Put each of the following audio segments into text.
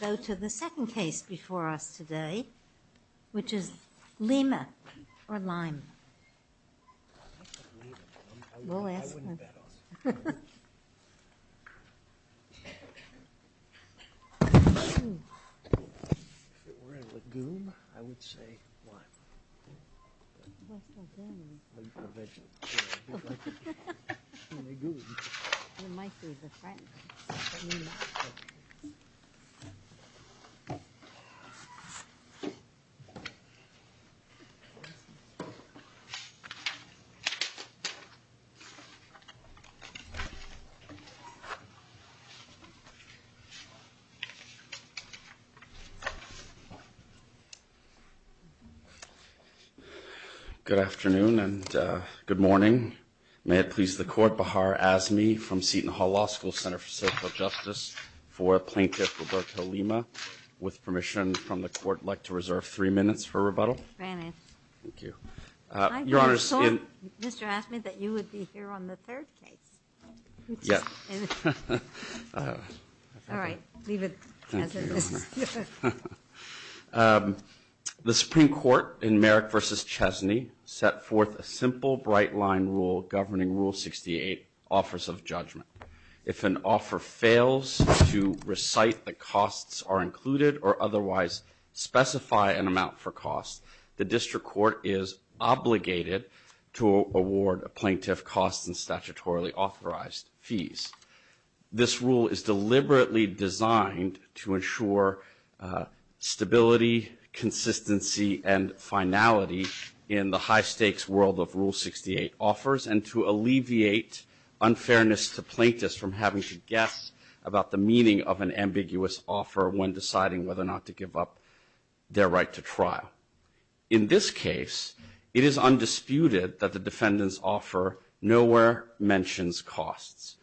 Go to the second case before us today, which is Lima or Lyme Go to the second case before us today, which is Lima or Lyme Go. Ye Please stand by for reserve three minutes. Your Honor Second Court in Fairfax city, sets forth a simple, bright line rule governing Rule 68, Office of Judgment. If an offer fails to recite the costs are included or otherwise specify an amount for cost, the district court is obligated to award a plaintiff costs and statutorily authorized fees. This rule is deliberately designed to ensure stability, consistency, and finality in the high stakes world of Rule 68 offers. And to alleviate unfairness to plaintiffs from having to guess about the meaning of an ambiguous offer when deciding whether or not to give up their right to trial. In this case, it is undisputed that the defendant's offer nowhere mentions costs.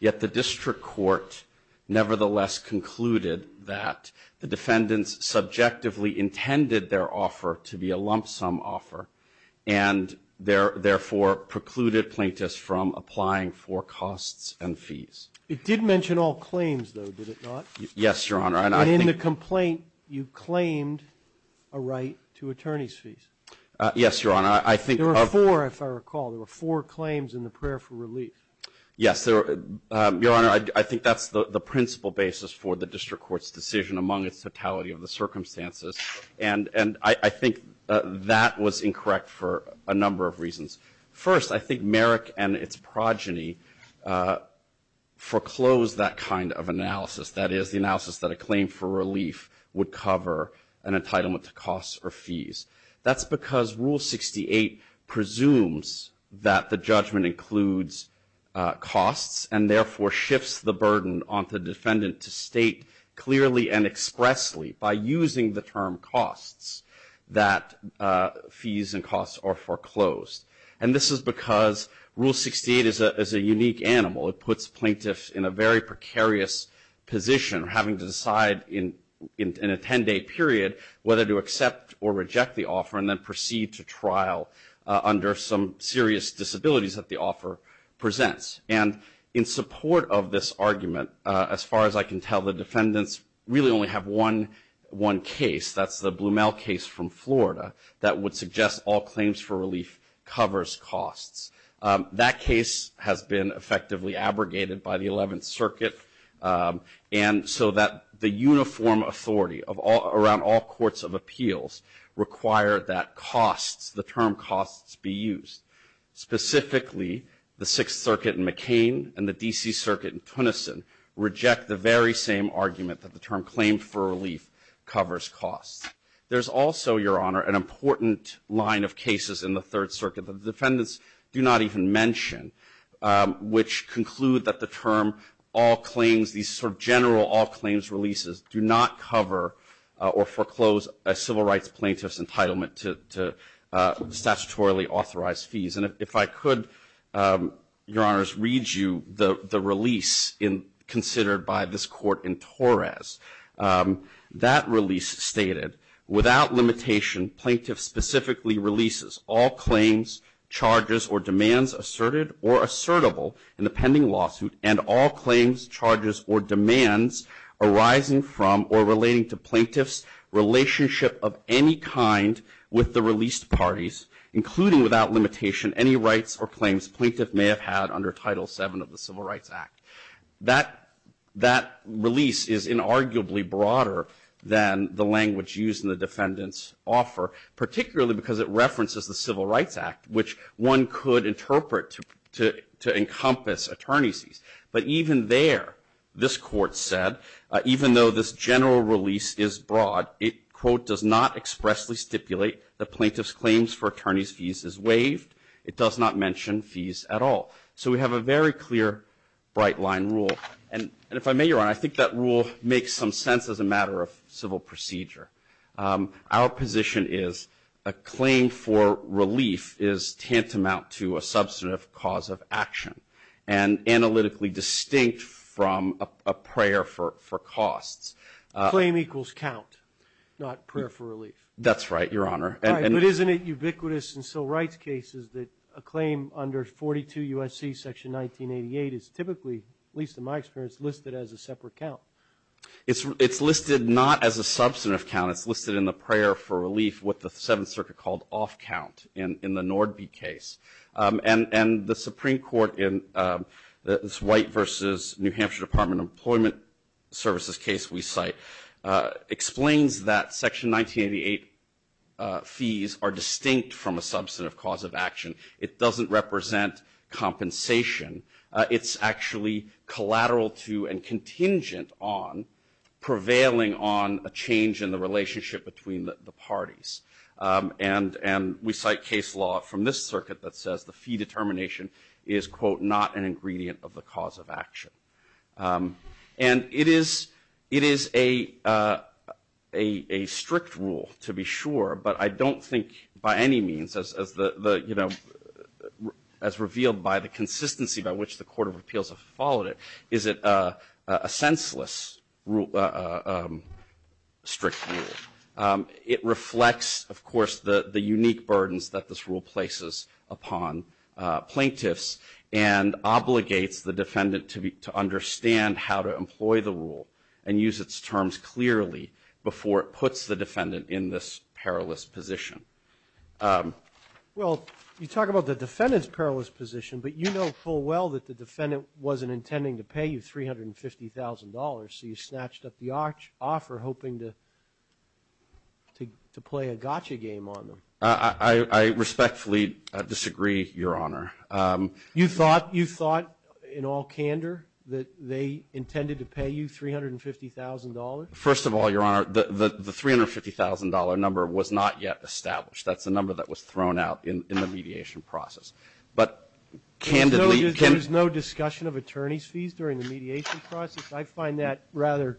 Yet the district court nevertheless concluded that the defendants subjectively intended their offer to be a lump sum offer. And therefore, precluded plaintiffs from applying for costs and fees. It did mention all claims though, did it not? Yes, Your Honor. And in the complaint, you claimed a right to attorney's fees. Yes, Your Honor, I think- There were four, if I recall. There were four claims in the prayer for relief. Yes, Your Honor, I think that's the principle basis for the district court's decision among its totality of the circumstances. And I think that was incorrect for a number of reasons. First, I think Merrick and its progeny foreclosed that kind of analysis. That is, the analysis that a claim for relief would cover an entitlement to costs or fees. That's because Rule 68 presumes that the judgment includes costs and therefore shifts the burden on the defendant to state clearly and firm costs that fees and costs are foreclosed. And this is because Rule 68 is a unique animal. It puts plaintiffs in a very precarious position, having to decide in a ten day period whether to accept or reject the offer and then proceed to trial under some serious disabilities that the offer presents. And in support of this argument, as far as I can tell, the defendants really only have one case, that's the Blumell case from Florida, that would suggest all claims for relief covers costs. That case has been effectively abrogated by the 11th Circuit, and so that the uniform authority around all courts of appeals require that costs, the term costs, be used. Specifically, the 6th Circuit in McCain and the DC Circuit in Tunison reject the very same argument that the term claim for relief covers costs. There's also, Your Honor, an important line of cases in the 3rd Circuit, that the defendants do not even mention, which conclude that the term all claims, these sort of general all claims releases, do not cover or foreclose a civil rights plaintiff's entitlement to statutorily authorized fees. And if I could, Your Honors, read you the release considered by this court in Torres. That release stated, without limitation, plaintiff specifically releases all claims, charges, or demands asserted or assertable in the pending lawsuit. And all claims, charges, or demands arising from or relating to plaintiff's relationship of any kind with the released parties, including without limitation any rights or claims plaintiff may have had under Title VII of the Civil Rights Act. That release is inarguably broader than the language used in the defendant's offer, particularly because it references the Civil Rights Act, which one could interpret to encompass attorneys. But even there, this court said, even though this general release is broad, it, quote, does not expressly stipulate the plaintiff's claims for attorney's fees is waived, it does not mention fees at all. So we have a very clear bright line rule. And if I may, Your Honor, I think that rule makes some sense as a matter of civil procedure. Our position is a claim for relief is tantamount to a substantive cause of action. And analytically distinct from a prayer for costs. Claim equals count, not prayer for relief. That's right, Your Honor. But isn't it ubiquitous in civil rights cases that a claim under 42 U.S.C. Section 1988 is typically, at least in my experience, listed as a separate count? It's listed not as a substantive count, it's listed in the prayer for relief, what the Seventh Circuit called off count in the Nordby case. And the Supreme Court in this White versus New Hampshire Department of Employment Services case we cite explains that Section 1988 fees are distinct from a substantive cause of action. It doesn't represent compensation. It's actually collateral to and contingent on prevailing on a change in the relationship between the parties. And we cite case law from this circuit that says the fee determination is, quote, not an ingredient of the cause of action. And it is a strict rule, to be sure. But I don't think, by any means, as revealed by the consistency by which the Court of Appeals have followed it, is it a senseless strict rule. It reflects, of course, the unique burdens that this rule places upon plaintiffs. And obligates the defendant to understand how to employ the rule and use its terms clearly before it puts the defendant in this perilous position. Well, you talk about the defendant's perilous position, but you know full well that the defendant wasn't intending to pay you $350,000. So you snatched up the offer hoping to play a gotcha game on them. I respectfully disagree, Your Honor. You thought, in all candor, that they intended to pay you $350,000? First of all, Your Honor, the $350,000 number was not yet established. That's the number that was thrown out in the mediation process. But candidly- There was no discussion of attorney's fees during the mediation process? I find that rather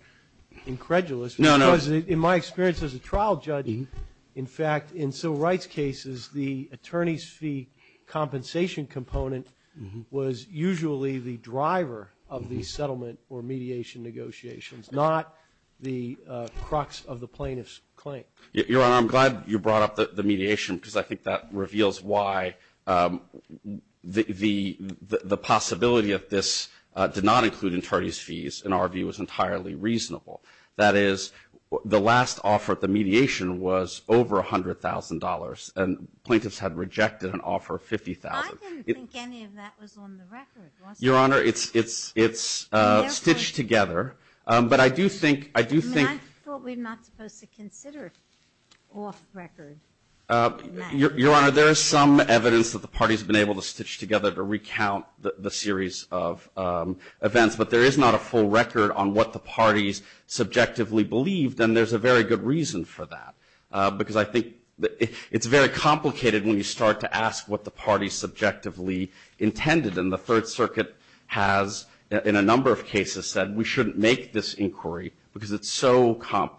incredulous. No, no. Because in my experience as a trial judge, in fact, in civil rights cases, the attorney's fee compensation component was usually the driver of the settlement or mediation negotiations, not the crux of the plaintiff's claim. Your Honor, I'm glad you brought up the mediation, because I think that reveals why the possibility of this did not include attorney's fees, in our view, was entirely reasonable. That is, the last offer at the mediation was over $100,000, and plaintiffs had rejected an offer of $50,000. I didn't think any of that was on the record, was it? Your Honor, it's stitched together, but I do think- I mean, I thought we're not supposed to consider off-record in that. Your Honor, there is some evidence that the party's been able to stitch together to recount the series of events, but there is not a full record on what the party's subjectively believed, and there's a very good reason for that. Because I think it's very complicated when you start to ask what the party's subjectively intended. And the Third Circuit has, in a number of cases, said we shouldn't make this inquiry, because it's so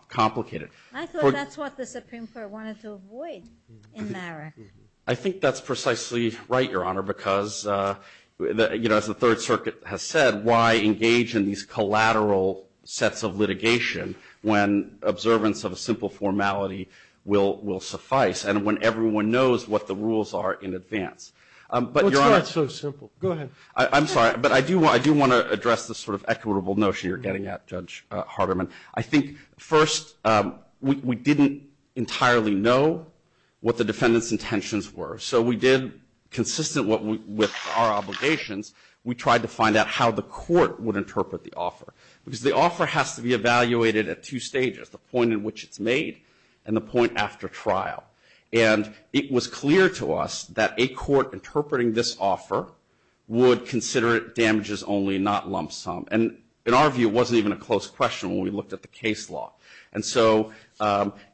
complicated. I thought that's what the Supreme Court wanted to avoid in Merrick. I think that's precisely right, Your Honor, because, as the Third Circuit has said, why engage in these collateral sets of litigation when observance of a simple formality will suffice, and when everyone knows what the rules are in advance? But, Your Honor- Well, it's not so simple. Go ahead. I'm sorry, but I do want to address this sort of equitable notion you're getting at, Judge Harderman. I think, first, we didn't entirely know what the defendant's intentions were. So, we did, consistent with our obligations, we tried to find out how the court would interpret the offer. Because the offer has to be evaluated at two stages, the point in which it's made, and the point after trial. And it was clear to us that a court interpreting this offer would consider it damages only, not lump sum. And, in our view, it wasn't even a close question when we looked at the case law. And so,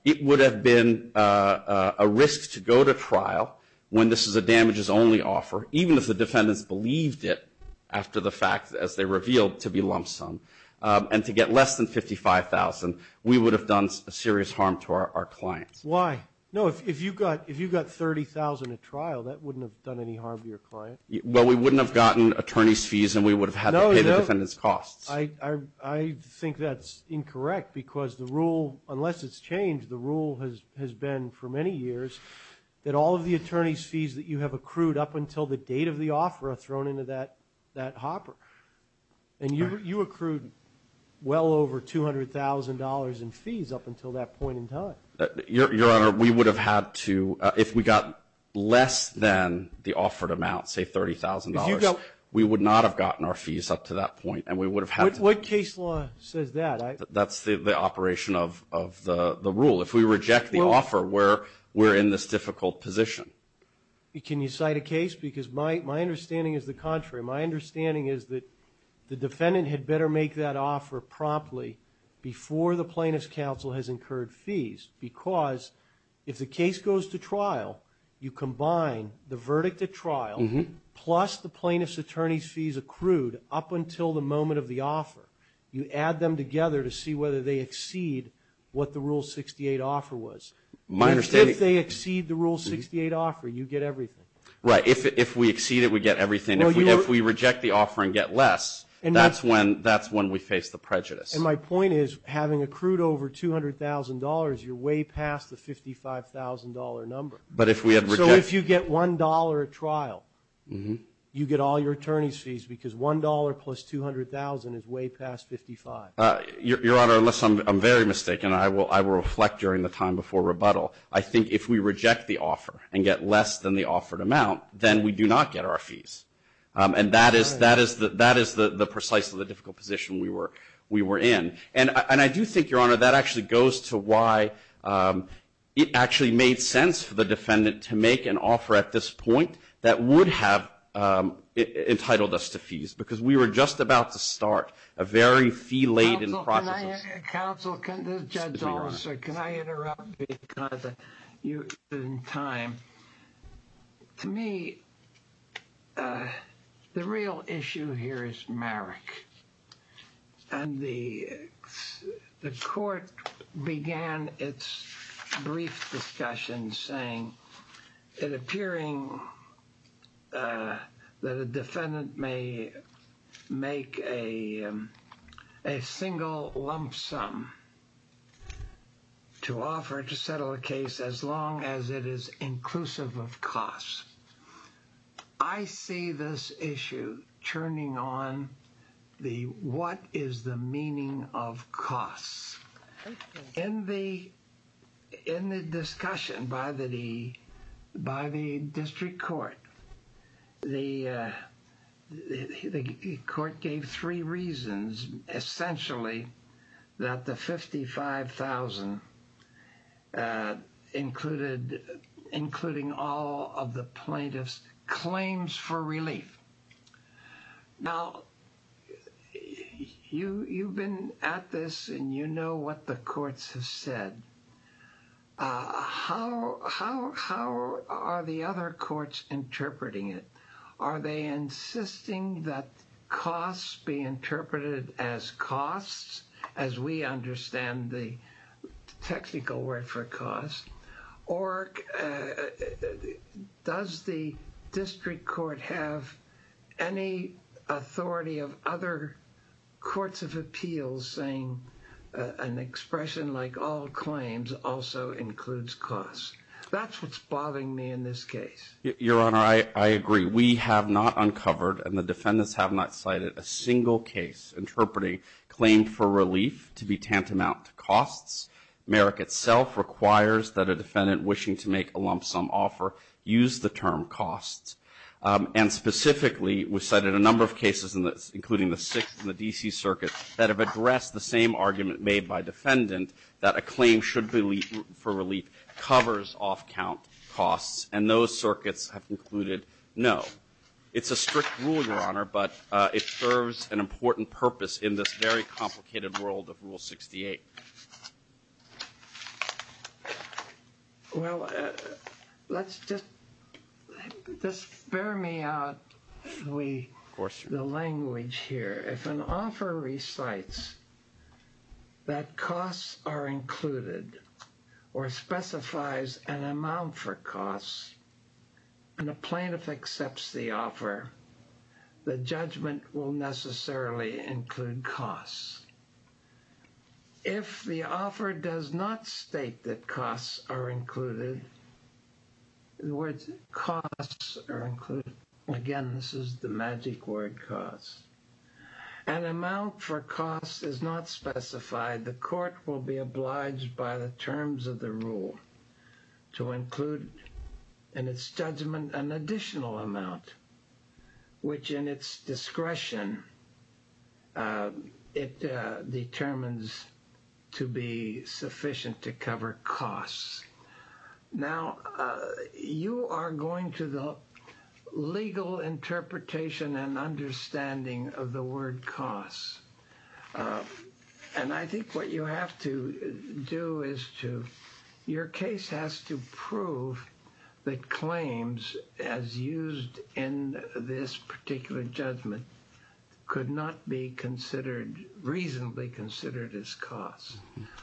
it would have been a risk to go to trial when this is a damages only offer, even if the defendants believed it, after the fact, as they revealed, to be lump sum. And to get less than $55,000, we would have done serious harm to our clients. Why? No, if you got $30,000 at trial, that wouldn't have done any harm to your client. Well, we wouldn't have gotten attorney's fees, and we would have had to pay the defendant's cost. I think that's incorrect, because the rule, unless it's changed, the rule has been for many years that all of the attorney's fees that you have accrued up until the date of the offer are thrown into that hopper. And you accrued well over $200,000 in fees up until that point in time. Your Honor, we would have had to, if we got less than the offered amount, say $30,000. We would not have gotten our fees up to that point. What case law says that? That's the operation of the rule. If we reject the offer, we're in this difficult position. Can you cite a case? Because my understanding is the contrary. My understanding is that the defendant had better make that offer promptly before the plaintiff's counsel has incurred fees, because if the case goes to trial, you combine the verdict at trial plus the plaintiff's attorney's fees accrued up until the moment of the offer, you add them together to see whether they exceed what the Rule 68 offer was. If they exceed the Rule 68 offer, you get everything. Right, if we exceed it, we get everything. If we reject the offer and get less, that's when we face the prejudice. And my point is, having accrued over $200,000, you're way past the $55,000 number. But if we had rejected- You get all your attorney's fees, because $1 plus $200,000 is way past $55,000. Your Honor, unless I'm very mistaken, I will reflect during the time before rebuttal. I think if we reject the offer and get less than the offered amount, then we do not get our fees. And that is precisely the difficult position we were in. And I do think, Your Honor, that actually goes to why it actually made sense for the defendant to make an offer at this point that would have entitled us to fees. Because we were just about to start a very fee-laden process. Counsel, can the judge also, can I interrupt you in time? To me, the real issue here is Merrick. And the court began its brief discussion saying, it appearing that a defendant may make a single lump sum to offer to settle a case as long as it is inclusive of costs. I see this issue turning on the, what is the meaning of costs? In the discussion by the district court, the court gave three reasons, essentially, that the 55,000, including all of the plaintiffs, claims for relief. Now, you've been at this and you know what the courts have said. How are the other courts interpreting it? Are they insisting that costs be interpreted as costs, as we understand the technical word for costs? Or does the district court have any authority of other courts of appeals saying an expression like all claims also includes costs? That's what's bothering me in this case. Your Honor, I agree. We have not uncovered, and the defendants have not cited, a single case interpreting claim for relief to be tantamount to costs. Merrick itself requires that a defendant wishing to make a lump sum offer use the term costs. And specifically, we've cited a number of cases in this, including the Sixth and the D.C. Circuit, that have addressed the same argument made by defendant that a claim should be for relief covers off-count costs. And those circuits have concluded, no. It's a strict rule, Your Honor, but it serves an important purpose in this very complicated world of Rule 68. Well, let's just, just bear me out, the language here. If an offer recites that costs are included, or specifies an amount for costs, and a plaintiff accepts the offer, the judgment will necessarily include costs. If the offer does not state that costs are included, in other words, costs are included, again, this is the magic word, costs, an amount for costs is not specified, the court will be obliged by the terms of the rule to include in its judgment an additional amount, which in its discretion, it determines to be sufficient to cover costs. Now, you are going to the legal interpretation and understanding of the word costs. And I think what you have to do is to, your case has to prove that claims as used in this particular judgment could not be considered, reasonably considered as costs.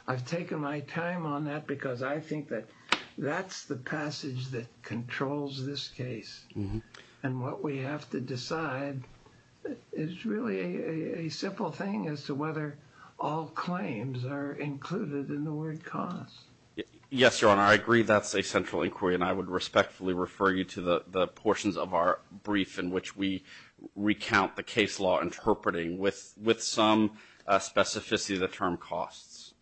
I've taken my time on that because I think that that's the passage that controls this case. And what we have to decide is really a simple thing as to whether all claims are included in the word costs. Yes, Your Honor, I agree that's a central inquiry and I would respectfully refer you to the portions of our brief in which we recount the case law interpreting with some specificity of the term costs.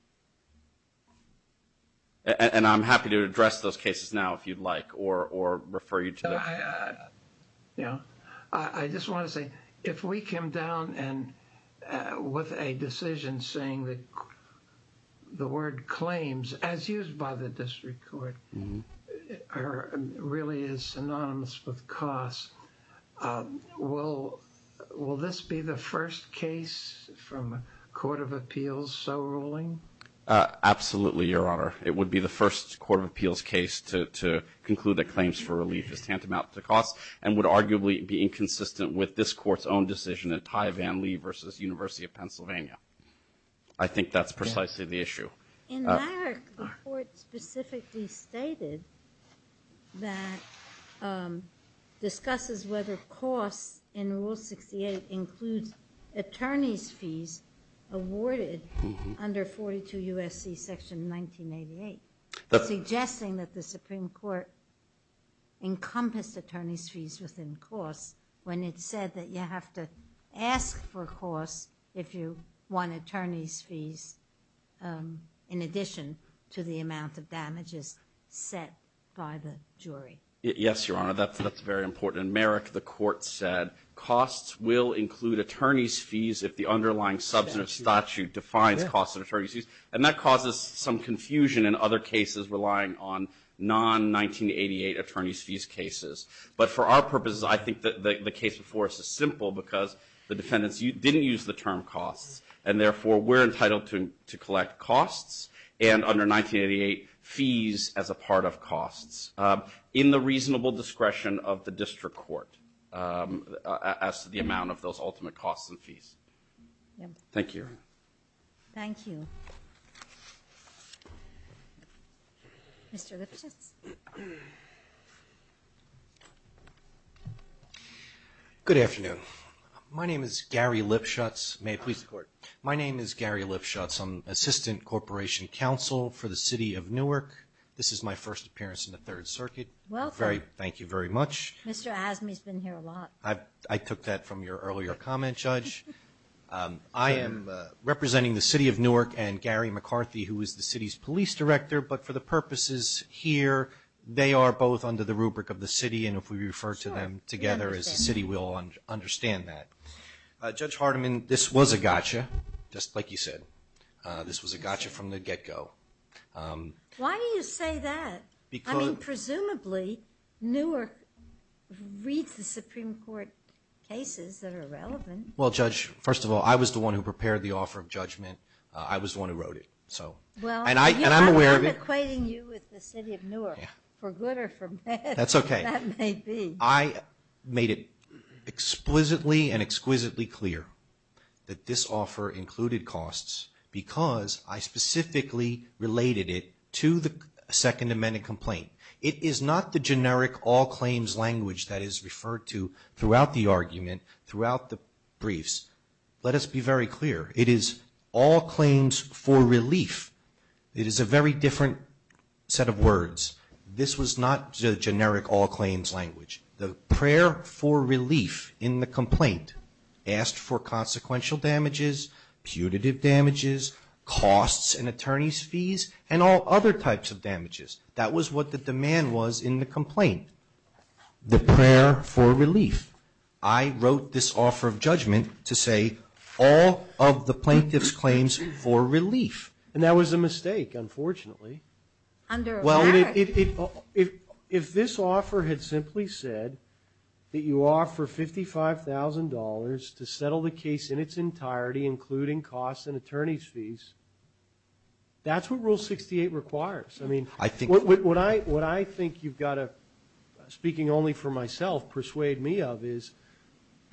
And I'm happy to address those cases now if you'd like, or refer you to them. I just want to say, if we came down with a decision saying that the word claims, as used by the district court, really is synonymous with costs, will this be the first case from a court of appeals so ruling? Absolutely, Your Honor. It would be the first court of appeals case to conclude that claims for relief is tantamount to costs and would arguably be inconsistent with this court's own decision at Ty Van Lee versus University of Pennsylvania. I think that's precisely the issue. In Larrick, the court specifically stated that discusses whether costs in Rule 68 includes attorney's fees awarded under 42 U.S.C. Section 1988, suggesting that the Supreme Court encompassed attorney's fees within costs when it said that you have to ask for costs if you want attorney's fees in addition to the amount of damages set by the jury. Yes, Your Honor, that's very important. In Merrick, the court said costs will include attorney's fees if the underlying substantive statute defines costs and attorney's fees, and that causes some confusion in other cases relying on non-1988 attorney's fees cases. But for our purposes, I think the case before us is simple because the defendants didn't use the term costs, and therefore we're entitled to collect costs and under 1988 fees as a part of costs. In the reasonable discretion of the district court as to the amount of those ultimate costs and fees. Thank you, Your Honor. Thank you. Mr. Lipschutz. Good afternoon. My name is Gary Lipschutz. May it please the Court. My name is Gary Lipschutz. I'm Assistant Corporation Counsel for the City of Newark. This is my first appearance in the Third Circuit. Welcome. Thank you very much. Mr. Azmi's been here a lot. I took that from your earlier comment, Judge. I am representing the City of Newark and Gary McCarthy, who is the City's Police Director, but for the purposes here, they are both under the rubric of the City, and if we refer to them together as the City, we'll understand that. Judge Hardiman, this was a gotcha, just like you said. This was a gotcha from the get-go. Why do you say that? I mean, presumably, Newark reads the Supreme Court cases that are relevant. Well, Judge, first of all, I was the one who prepared the offer of judgment. I was the one who wrote it. I'm equating you with the City of Newark, for good or for bad. That's okay. That may be. I made it exquisitely and exquisitely clear that this offer included costs because I specifically related it to the Second Amendment complaint. It is not the generic all-claims language that is referred to throughout the argument, throughout the briefs. Let us be very clear. It is all claims for relief. It is a very different set of words. This was not the generic all-claims language. The prayer for relief in the complaint asked for consequential damages, putative damages, costs and attorney's fees, and all other types of damages. That was what the demand was in the complaint, the prayer for relief. I wrote this offer of judgment to say all of the plaintiff's claims for relief. And that was a mistake, unfortunately. Under what? Well, if this offer had simply said that you offer $55,000 to settle the case in its entirety, including costs and attorney's fees, that's what Rule 68 requires. I mean, what I think you've got to, speaking only for myself, persuade me of is,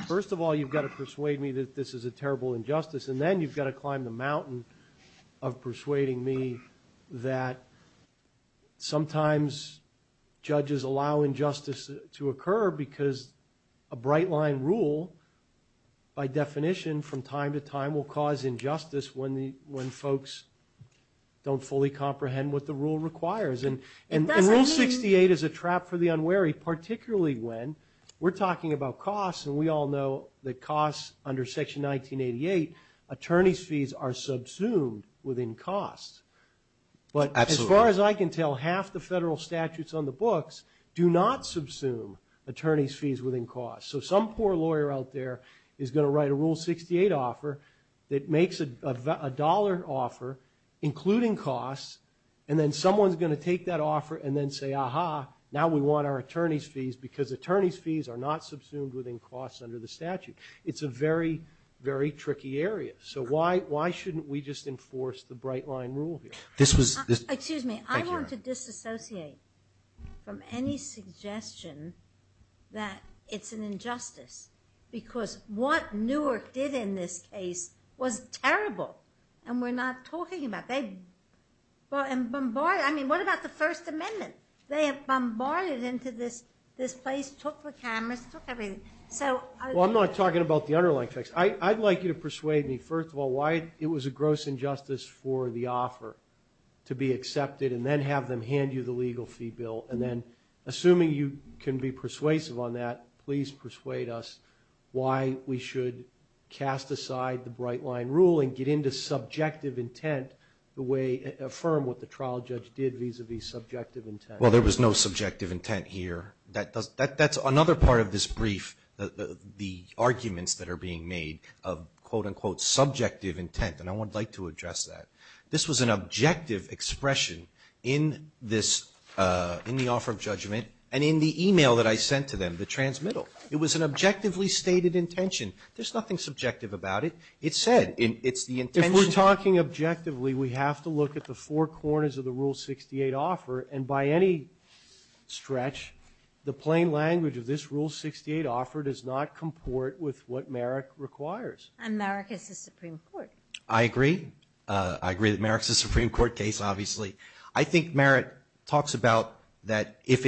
first of all, you've got to persuade me that this is a terrible injustice, and then you've got to climb the mountain of persuading me that sometimes judges allow injustice to occur because a bright-line rule, by definition, from time to time will cause injustice when folks don't fully comprehend what the rule requires. And Rule 68 is a trap for the unwary, particularly when we're talking about costs, and we all know that costs under Section 1988, attorney's fees are subsumed within costs. But as far as I can tell, half the federal statutes on the books do not subsume attorney's fees within costs. So some poor lawyer out there is going to write a Rule 68 offer that makes a dollar offer, including costs, and then someone's going to take that offer and then say, ah-ha, now we want our attorney's fees because attorney's fees are not subsumed within costs under the statute. It's a very, very tricky area. So why shouldn't we just enforce the bright-line rule here? Excuse me. I want to disassociate from any suggestion that it's an injustice because what Newark did in this case was terrible, and we're not talking about that. I mean, what about the First Amendment? They have bombarded into this place, took the cameras, took everything. Well, I'm not talking about the underlying facts. I'd like you to persuade me, first of all, why it was a gross injustice for the offer to be accepted and then have them hand you the legal fee bill, and then assuming you can be persuasive on that, please persuade us why we should cast aside the bright-line rule and get into subjective intent, affirm what the trial judge did vis-à-vis subjective intent. Well, there was no subjective intent here. That's another part of this brief, the arguments that are being made of, quote-unquote, subjective intent, and I would like to address that. This was an objective expression in this, in the offer of judgment and in the e-mail that I sent to them, the transmittal. It was an objectively stated intention. There's nothing subjective about it. It said it's the intention. If we're talking objectively, we have to look at the four corners of the Rule 68 offer, and by any stretch, the plain language of this Rule 68 offer does not comport with what Merrick requires. And Merrick is the Supreme Court. I agree. I agree that Merrick's the Supreme Court case, obviously. I think Merrick talks about that if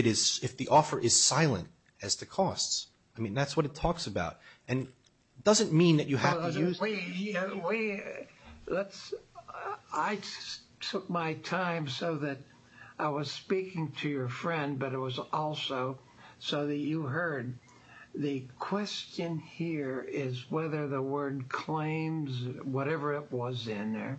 the offer is silent as to costs. I mean, that's what it talks about, and it doesn't mean that you have to use it. I took my time so that I was speaking to your friend, but it was also so that you heard. The question here is whether the word claims, whatever it was in there,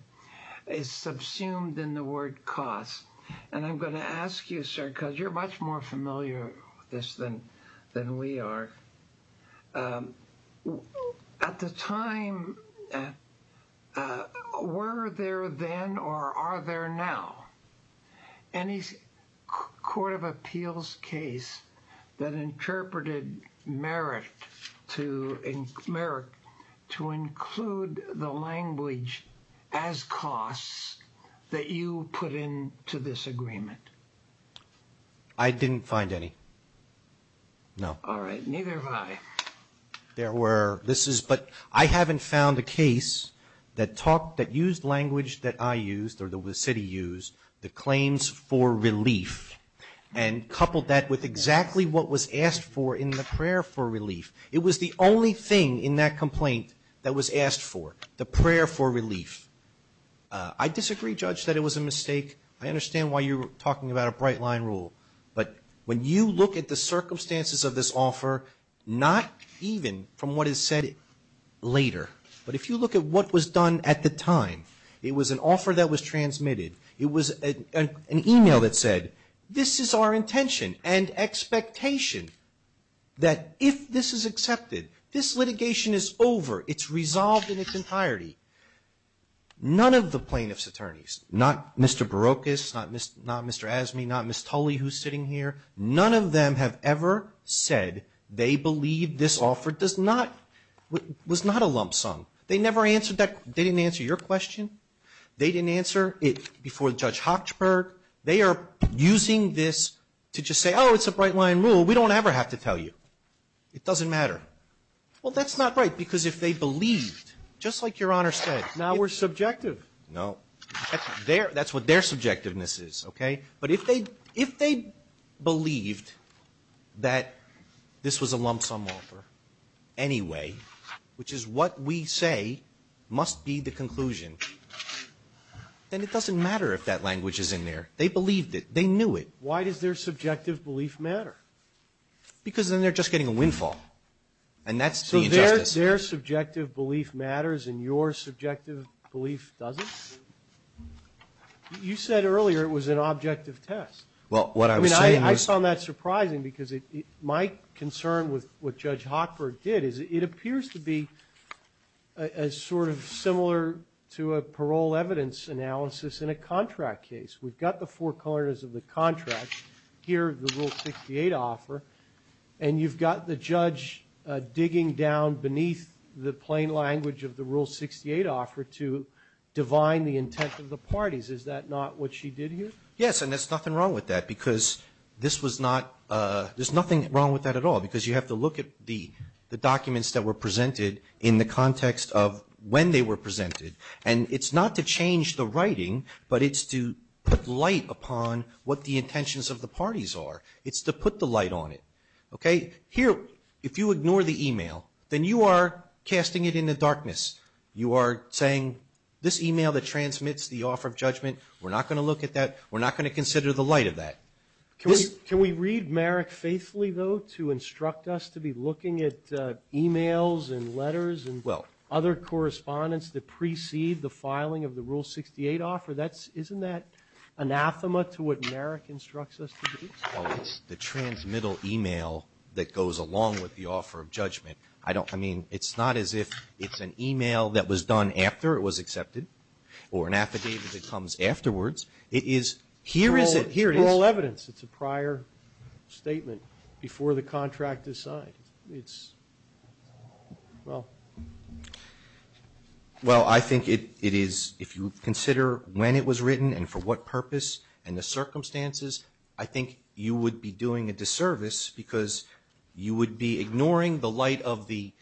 is subsumed in the word cost. And I'm going to ask you, sir, because you're much more familiar with this than we are. At the time, were there then or are there now any Court of Appeals case that interpreted Merrick to include the language as costs that you put into this agreement? I didn't find any, no. All right. Neither have I. There were. But I haven't found a case that used language that I used or the city used, the claims for relief, and coupled that with exactly what was asked for in the prayer for relief. It was the only thing in that complaint that was asked for, the prayer for relief. I disagree, Judge, that it was a mistake. I understand why you're talking about a bright-line rule. But when you look at the circumstances of this offer, not even from what is said later, but if you look at what was done at the time, it was an offer that was transmitted. It was an email that said, this is our intention and expectation that if this is accepted, this litigation is over. It's resolved in its entirety. None of the plaintiff's attorneys, not Mr. Barocas, not Mr. Asmey, not Ms. Tully who is sitting here, none of them have ever said they believe this offer does not, was not a lump sum. They never answered that. They didn't answer your question. They didn't answer it before Judge Hochberg. They are using this to just say, oh, it's a bright-line rule. We don't ever have to tell you. It doesn't matter. Well, that's not right, because if they believed, just like Your Honor said. Now we're subjective. No. That's what their subjectiveness is, okay? But if they believed that this was a lump sum offer anyway, which is what we say must be the conclusion, then it doesn't matter if that language is in there. They believed it. They knew it. Why does their subjective belief matter? Because then they're just getting a windfall. And that's the injustice. So their subjective belief matters and your subjective belief doesn't? You said earlier it was an objective test. Well, what I was saying is. I mean, I found that surprising, because my concern with what Judge Hochberg did is it appears to be sort of similar to a parole evidence analysis in a contract case. We've got the four corners of the contract, here the Rule 68 offer, and you've got the judge digging down beneath the plain language of the Rule 68 offer to divine the intent of the parties. Is that not what she did here? Yes, and there's nothing wrong with that, because this was not. There's nothing wrong with that at all, because you have to look at the documents that were presented in the context of when they were presented. And it's not to change the writing, but it's to put light upon what the intentions of the parties are. It's to put the light on it. Here, if you ignore the email, then you are casting it into darkness. You are saying, this email that transmits the offer of judgment, we're not going to look at that. We're not going to consider the light of that. Can we read Merrick faithfully, though, to instruct us to be looking at emails and letters and other correspondence that precede the filing of the Rule 68 offer? Isn't that anathema to what Merrick instructs us to do? Well, it's the transmittal email that goes along with the offer of judgment. I mean, it's not as if it's an email that was done after it was accepted or an affidavit that comes afterwards. Here it is. It's moral evidence. It's a prior statement before the contract is signed. Well, I think it is, if you consider when it was written and for what purpose and the circumstances, I think you would be doing a disservice because you would be ignoring the light of the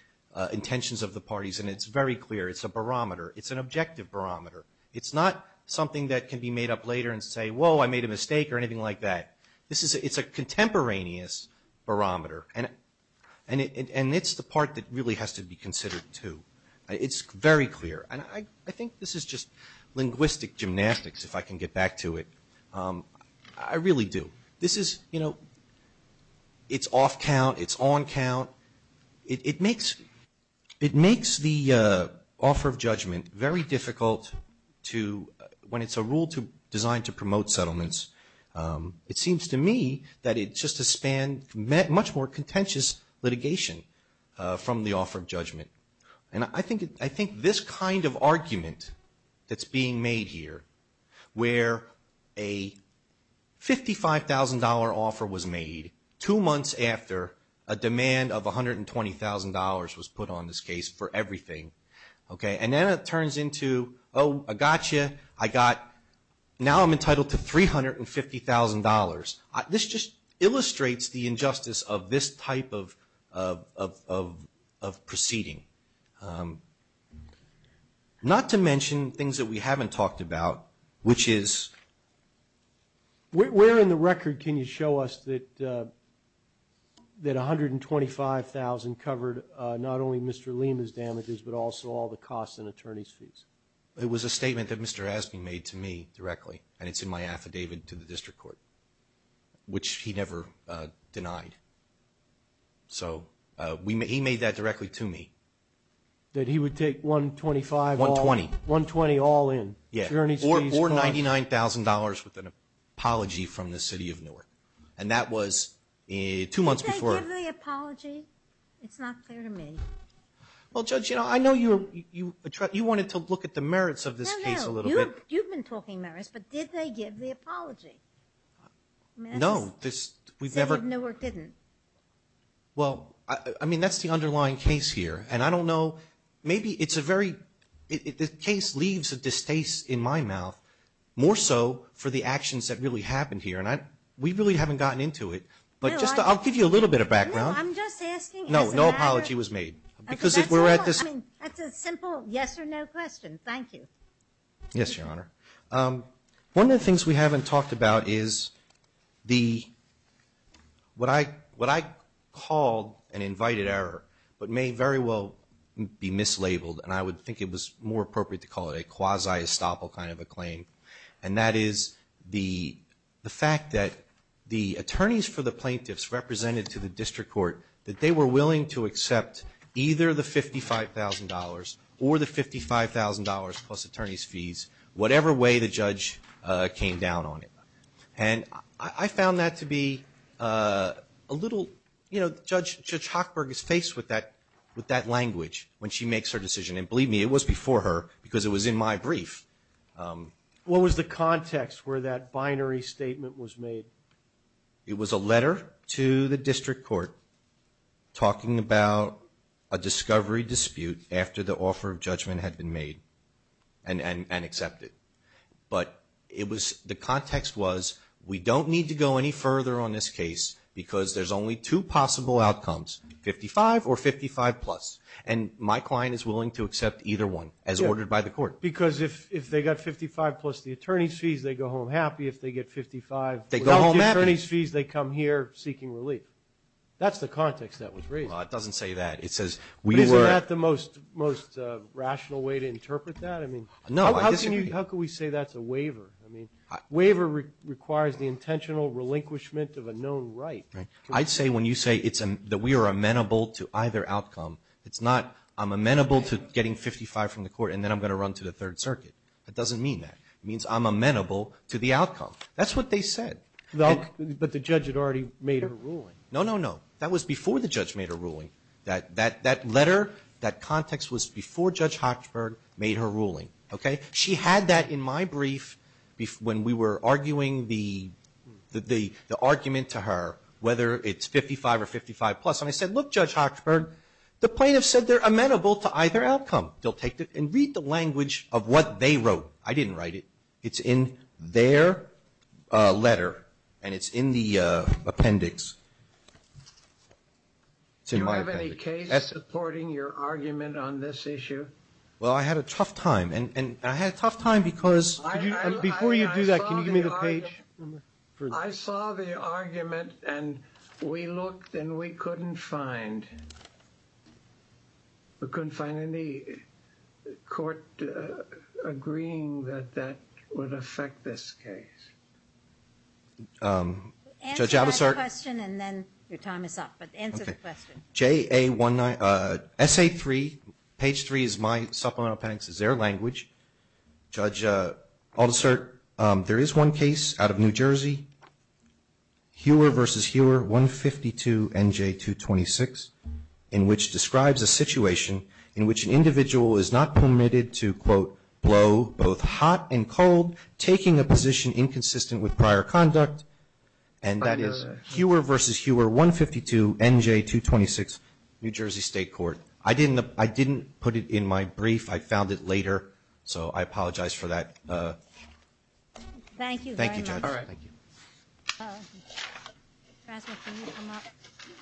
intentions of the parties. And it's very clear. It's a barometer. It's an objective barometer. It's not something that can be made up later and say, whoa, I made a mistake or anything like that. It's a contemporaneous barometer. And it's the part that really has to be considered, too. It's very clear. And I think this is just linguistic gymnastics, if I can get back to it. I really do. This is, you know, it's off count. It's on count. It makes the offer of judgment very difficult when it's a rule designed to promote settlements. It seems to me that it's just a span, much more contentious litigation from the offer of judgment. And I think this kind of argument that's being made here, where a $55,000 offer was made two months after a demand of $120,000 was put on this case for everything, okay, and then it turns into, oh, I got you. I got, now I'm entitled to $350,000. This just illustrates the injustice of this type of proceeding. Not to mention things that we haven't talked about, which is? Where in the record can you show us that $125,000 covered not only Mr. Lima's damages, but also all the costs and attorney's fees? It was a statement that Mr. Aspin made to me directly, and it's in my affidavit to the district court, which he never denied. So he made that directly to me. That he would take $125,000? $120,000. $120,000 all in? Yeah. Attorney's fees, costs? Or $99,000 with an apology from the city of Newark. And that was two months before. Did they give the apology? It's not clear to me. Well, Judge, you know, I know you wanted to look at the merits of this case a little bit. No, no. You've been talking merits, but did they give the apology? No. City of Newark didn't. Well, I mean, that's the underlying case here. And I don't know, maybe it's a very, the case leaves a distaste in my mouth, more so for the actions that really happened here. And we really haven't gotten into it. But just, I'll give you a little bit of background. No, I'm just asking. No, no apology was made. Because if we're at this. That's a simple yes or no question. Thank you. Yes, Your Honor. One of the things we haven't talked about is the, what I called an invited error, but may very well be mislabeled. And I would think it was more appropriate to call it a quasi-estoppel kind of a claim. And that is the fact that the attorneys for the plaintiffs represented to the district court, that they were willing to accept either the $55,000 or the $55,000 plus attorney's fees, whatever way the judge came down on it. And I found that to be a little, you know, Judge Hochberg is faced with that language when she makes her decision. And believe me, it was before her because it was in my brief. What was the context where that binary statement was made? It was a letter to the district court talking about a discovery dispute after the offer of judgment had been made and accepted. But it was, the context was we don't need to go any further on this case because there's only two possible outcomes, $55,000 or $55,000 plus. And my client is willing to accept either one as ordered by the court. Because if they got $55,000 plus the attorney's fees, they go home happy. If they get $55,000 without the attorney's fees, they come here seeking relief. That's the context that was raised. Well, it doesn't say that. It says we were. Isn't that the most rational way to interpret that? No, I disagree. How can we say that's a waiver? I mean, waiver requires the intentional relinquishment of a known right. I'd say when you say that we are amenable to either outcome, it's not I'm amenable to getting $55,000 from the court and then I'm going to run to the Third Circuit. That doesn't mean that. It means I'm amenable to the outcome. That's what they said. But the judge had already made a ruling. No, no, no. That was before the judge made a ruling. That letter, that context was before Judge Hochberg made her ruling. Okay? She had that in my brief when we were arguing the argument to her, whether it's $55,000 or $55,000 plus, and I said, look, Judge Hochberg, the plaintiffs said they're amenable to either outcome. They'll take it and read the language of what they wrote. I didn't write it. It's in their letter, and it's in the appendix. It's in my appendix. Do you have any case supporting your argument on this issue? Well, I had a tough time, and I had a tough time because before you do that, can you give me the page? I saw the argument, and we looked, and we couldn't find any court agreeing that that would affect this case. Judge Abbasart? Answer that question, and then your time is up. But answer the question. S.A. 3, page 3 is my supplemental appendix, is their language. Judge Abbasart, there is one case out of New Jersey, Hewer v. Hewer 152 N.J. 226, in which describes a situation in which an individual is not permitted to, quote, blow both hot and cold, taking a position inconsistent with prior conduct, and that is Hewer v. Hewer 152 N.J. 226, New Jersey State Court. I didn't put it in my brief. I found it later, so I apologize for that. Thank you very much. Thank you, Judge. All right. Thank you.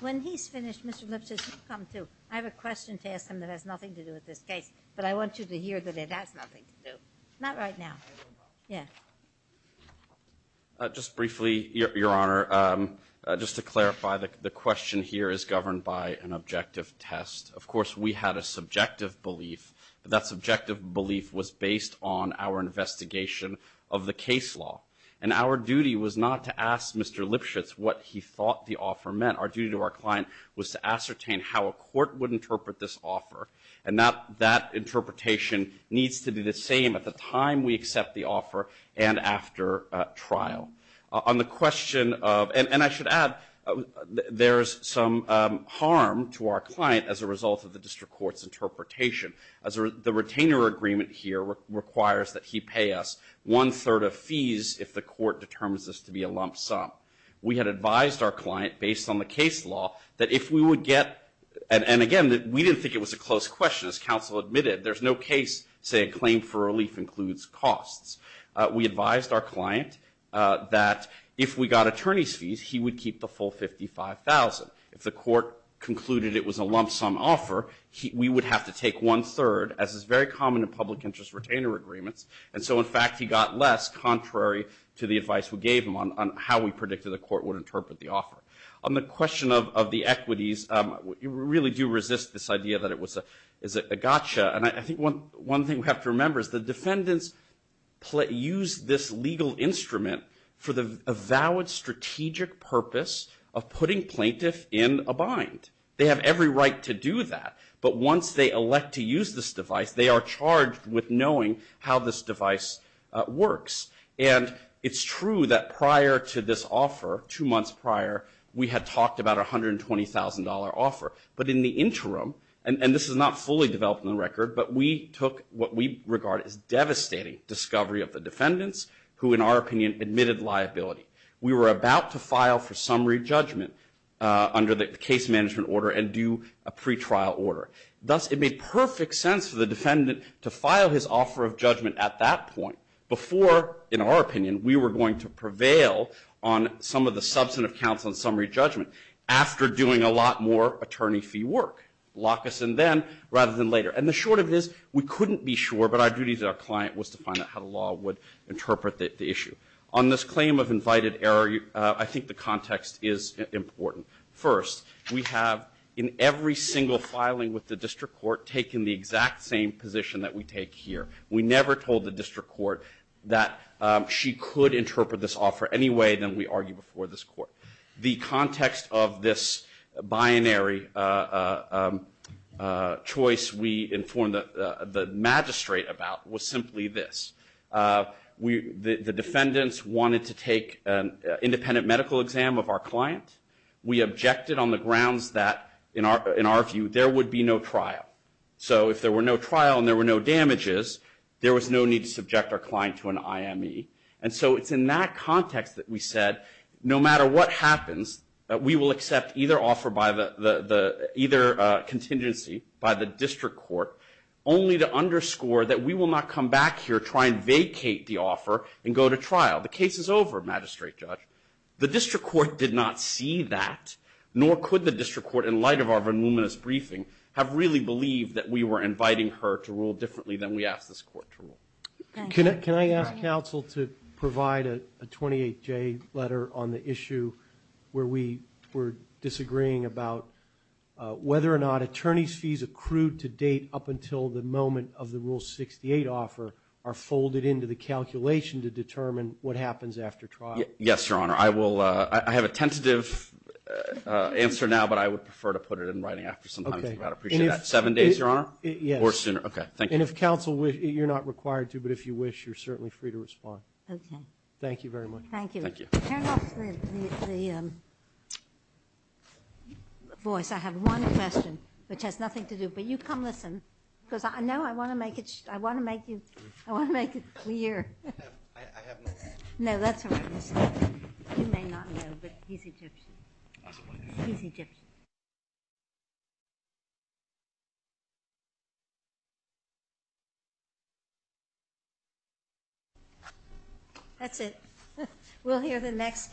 When he's finished, Mr. Lipseth, you come, too. I have a question to ask him that has nothing to do with this case, but I want you to hear that it has nothing to do. Not right now. Yeah. Just briefly, Your Honor, just to clarify, the question here is governed by an objective test. Of course, we had a subjective belief, but that subjective belief was based on our investigation of the case law, and our duty was not to ask Mr. Lipseth what he thought the offer meant. Our duty to our client was to ascertain how a court would interpret this offer, and that interpretation needs to be the same at the time we accept the offer and after trial. On the question of, and I should add, there's some harm to our client as a result of the district court's interpretation, as the retainer agreement here requires that he pay us one-third of fees if the court determines this to be a lump sum. We had advised our client, based on the case law, that if we would get, and again, we didn't think it was a close question. As counsel admitted, there's no case saying claim for relief includes costs. We advised our client that if we got attorney's fees, he would keep the full $55,000. If the court concluded it was a lump sum offer, we would have to take one-third, as is very common in public interest retainer agreements, and so, in fact, he got less, contrary to the advice we gave him on how we predicted the court would interpret the offer. On the question of the equities, we really do resist this idea that it was a gotcha, and I think one thing we have to remember is the defendants use this legal instrument for the avowed strategic purpose of putting plaintiff in a bind. They have every right to do that, but once they elect to use this device, they are charged with knowing how this device works, and it's true that prior to this offer, two months prior, we had talked about a $120,000 offer, but in the interim, and this is not fully developed in the record, but we took what we regard as devastating discovery of the defendants who, in our opinion, admitted liability. We were about to file for summary judgment under the case management order and do a pretrial order. Thus, it made perfect sense for the defendant to file his offer of judgment at that point before, in our opinion, we were going to prevail on some of the substantive counts on summary judgment after doing a lot more attorney fee work. Lock us in then rather than later, and the short of it is we couldn't be sure, but our duty as our client was to find out how the law would interpret the issue. On this claim of invited error, I think the context is important. First, we have, in every single filing with the district court, taken the exact same position that we take here. We never told the district court that she could interpret this offer any way than we argued before this court. The context of this binary choice we informed the magistrate about was simply this. The defendants wanted to take an independent medical exam of our client. We objected on the grounds that, in our view, there would be no trial. So if there were no trial and there were no damages, there was no need to subject our client to an IME. And so it's in that context that we said, no matter what happens, we will accept either offer by the either contingency by the district court, only to underscore that we will not come back here, try and vacate the offer, and go to trial. The case is over, magistrate judge. The district court did not see that, nor could the district court, in light of our voluminous briefing, have really believed that we were inviting her to rule differently than we asked this court to rule. Can I ask counsel to provide a 28-J letter on the issue where we were disagreeing about whether or not attorney's fees accrued to date up until the moment of the Rule 68 offer are folded into the calculation to determine what happens after trial? Yes, Your Honor. I have a tentative answer now, but I would prefer to put it in writing after some time. I'd appreciate that. Seven days, Your Honor? Yes. Or sooner. Okay. Thank you. And if counsel wishes, you're not required to, but if you wish, you're certainly free to respond. Okay. Thank you very much. Thank you. Thank you. Turn off the voice. I have one question, which has nothing to do. But you come listen, because I know I want to make it clear. I have no. No, that's all right, Mr. Sterling. You may not know, but he's Egyptian. That's all right. He's Egyptian. That's it. We'll hear the next case.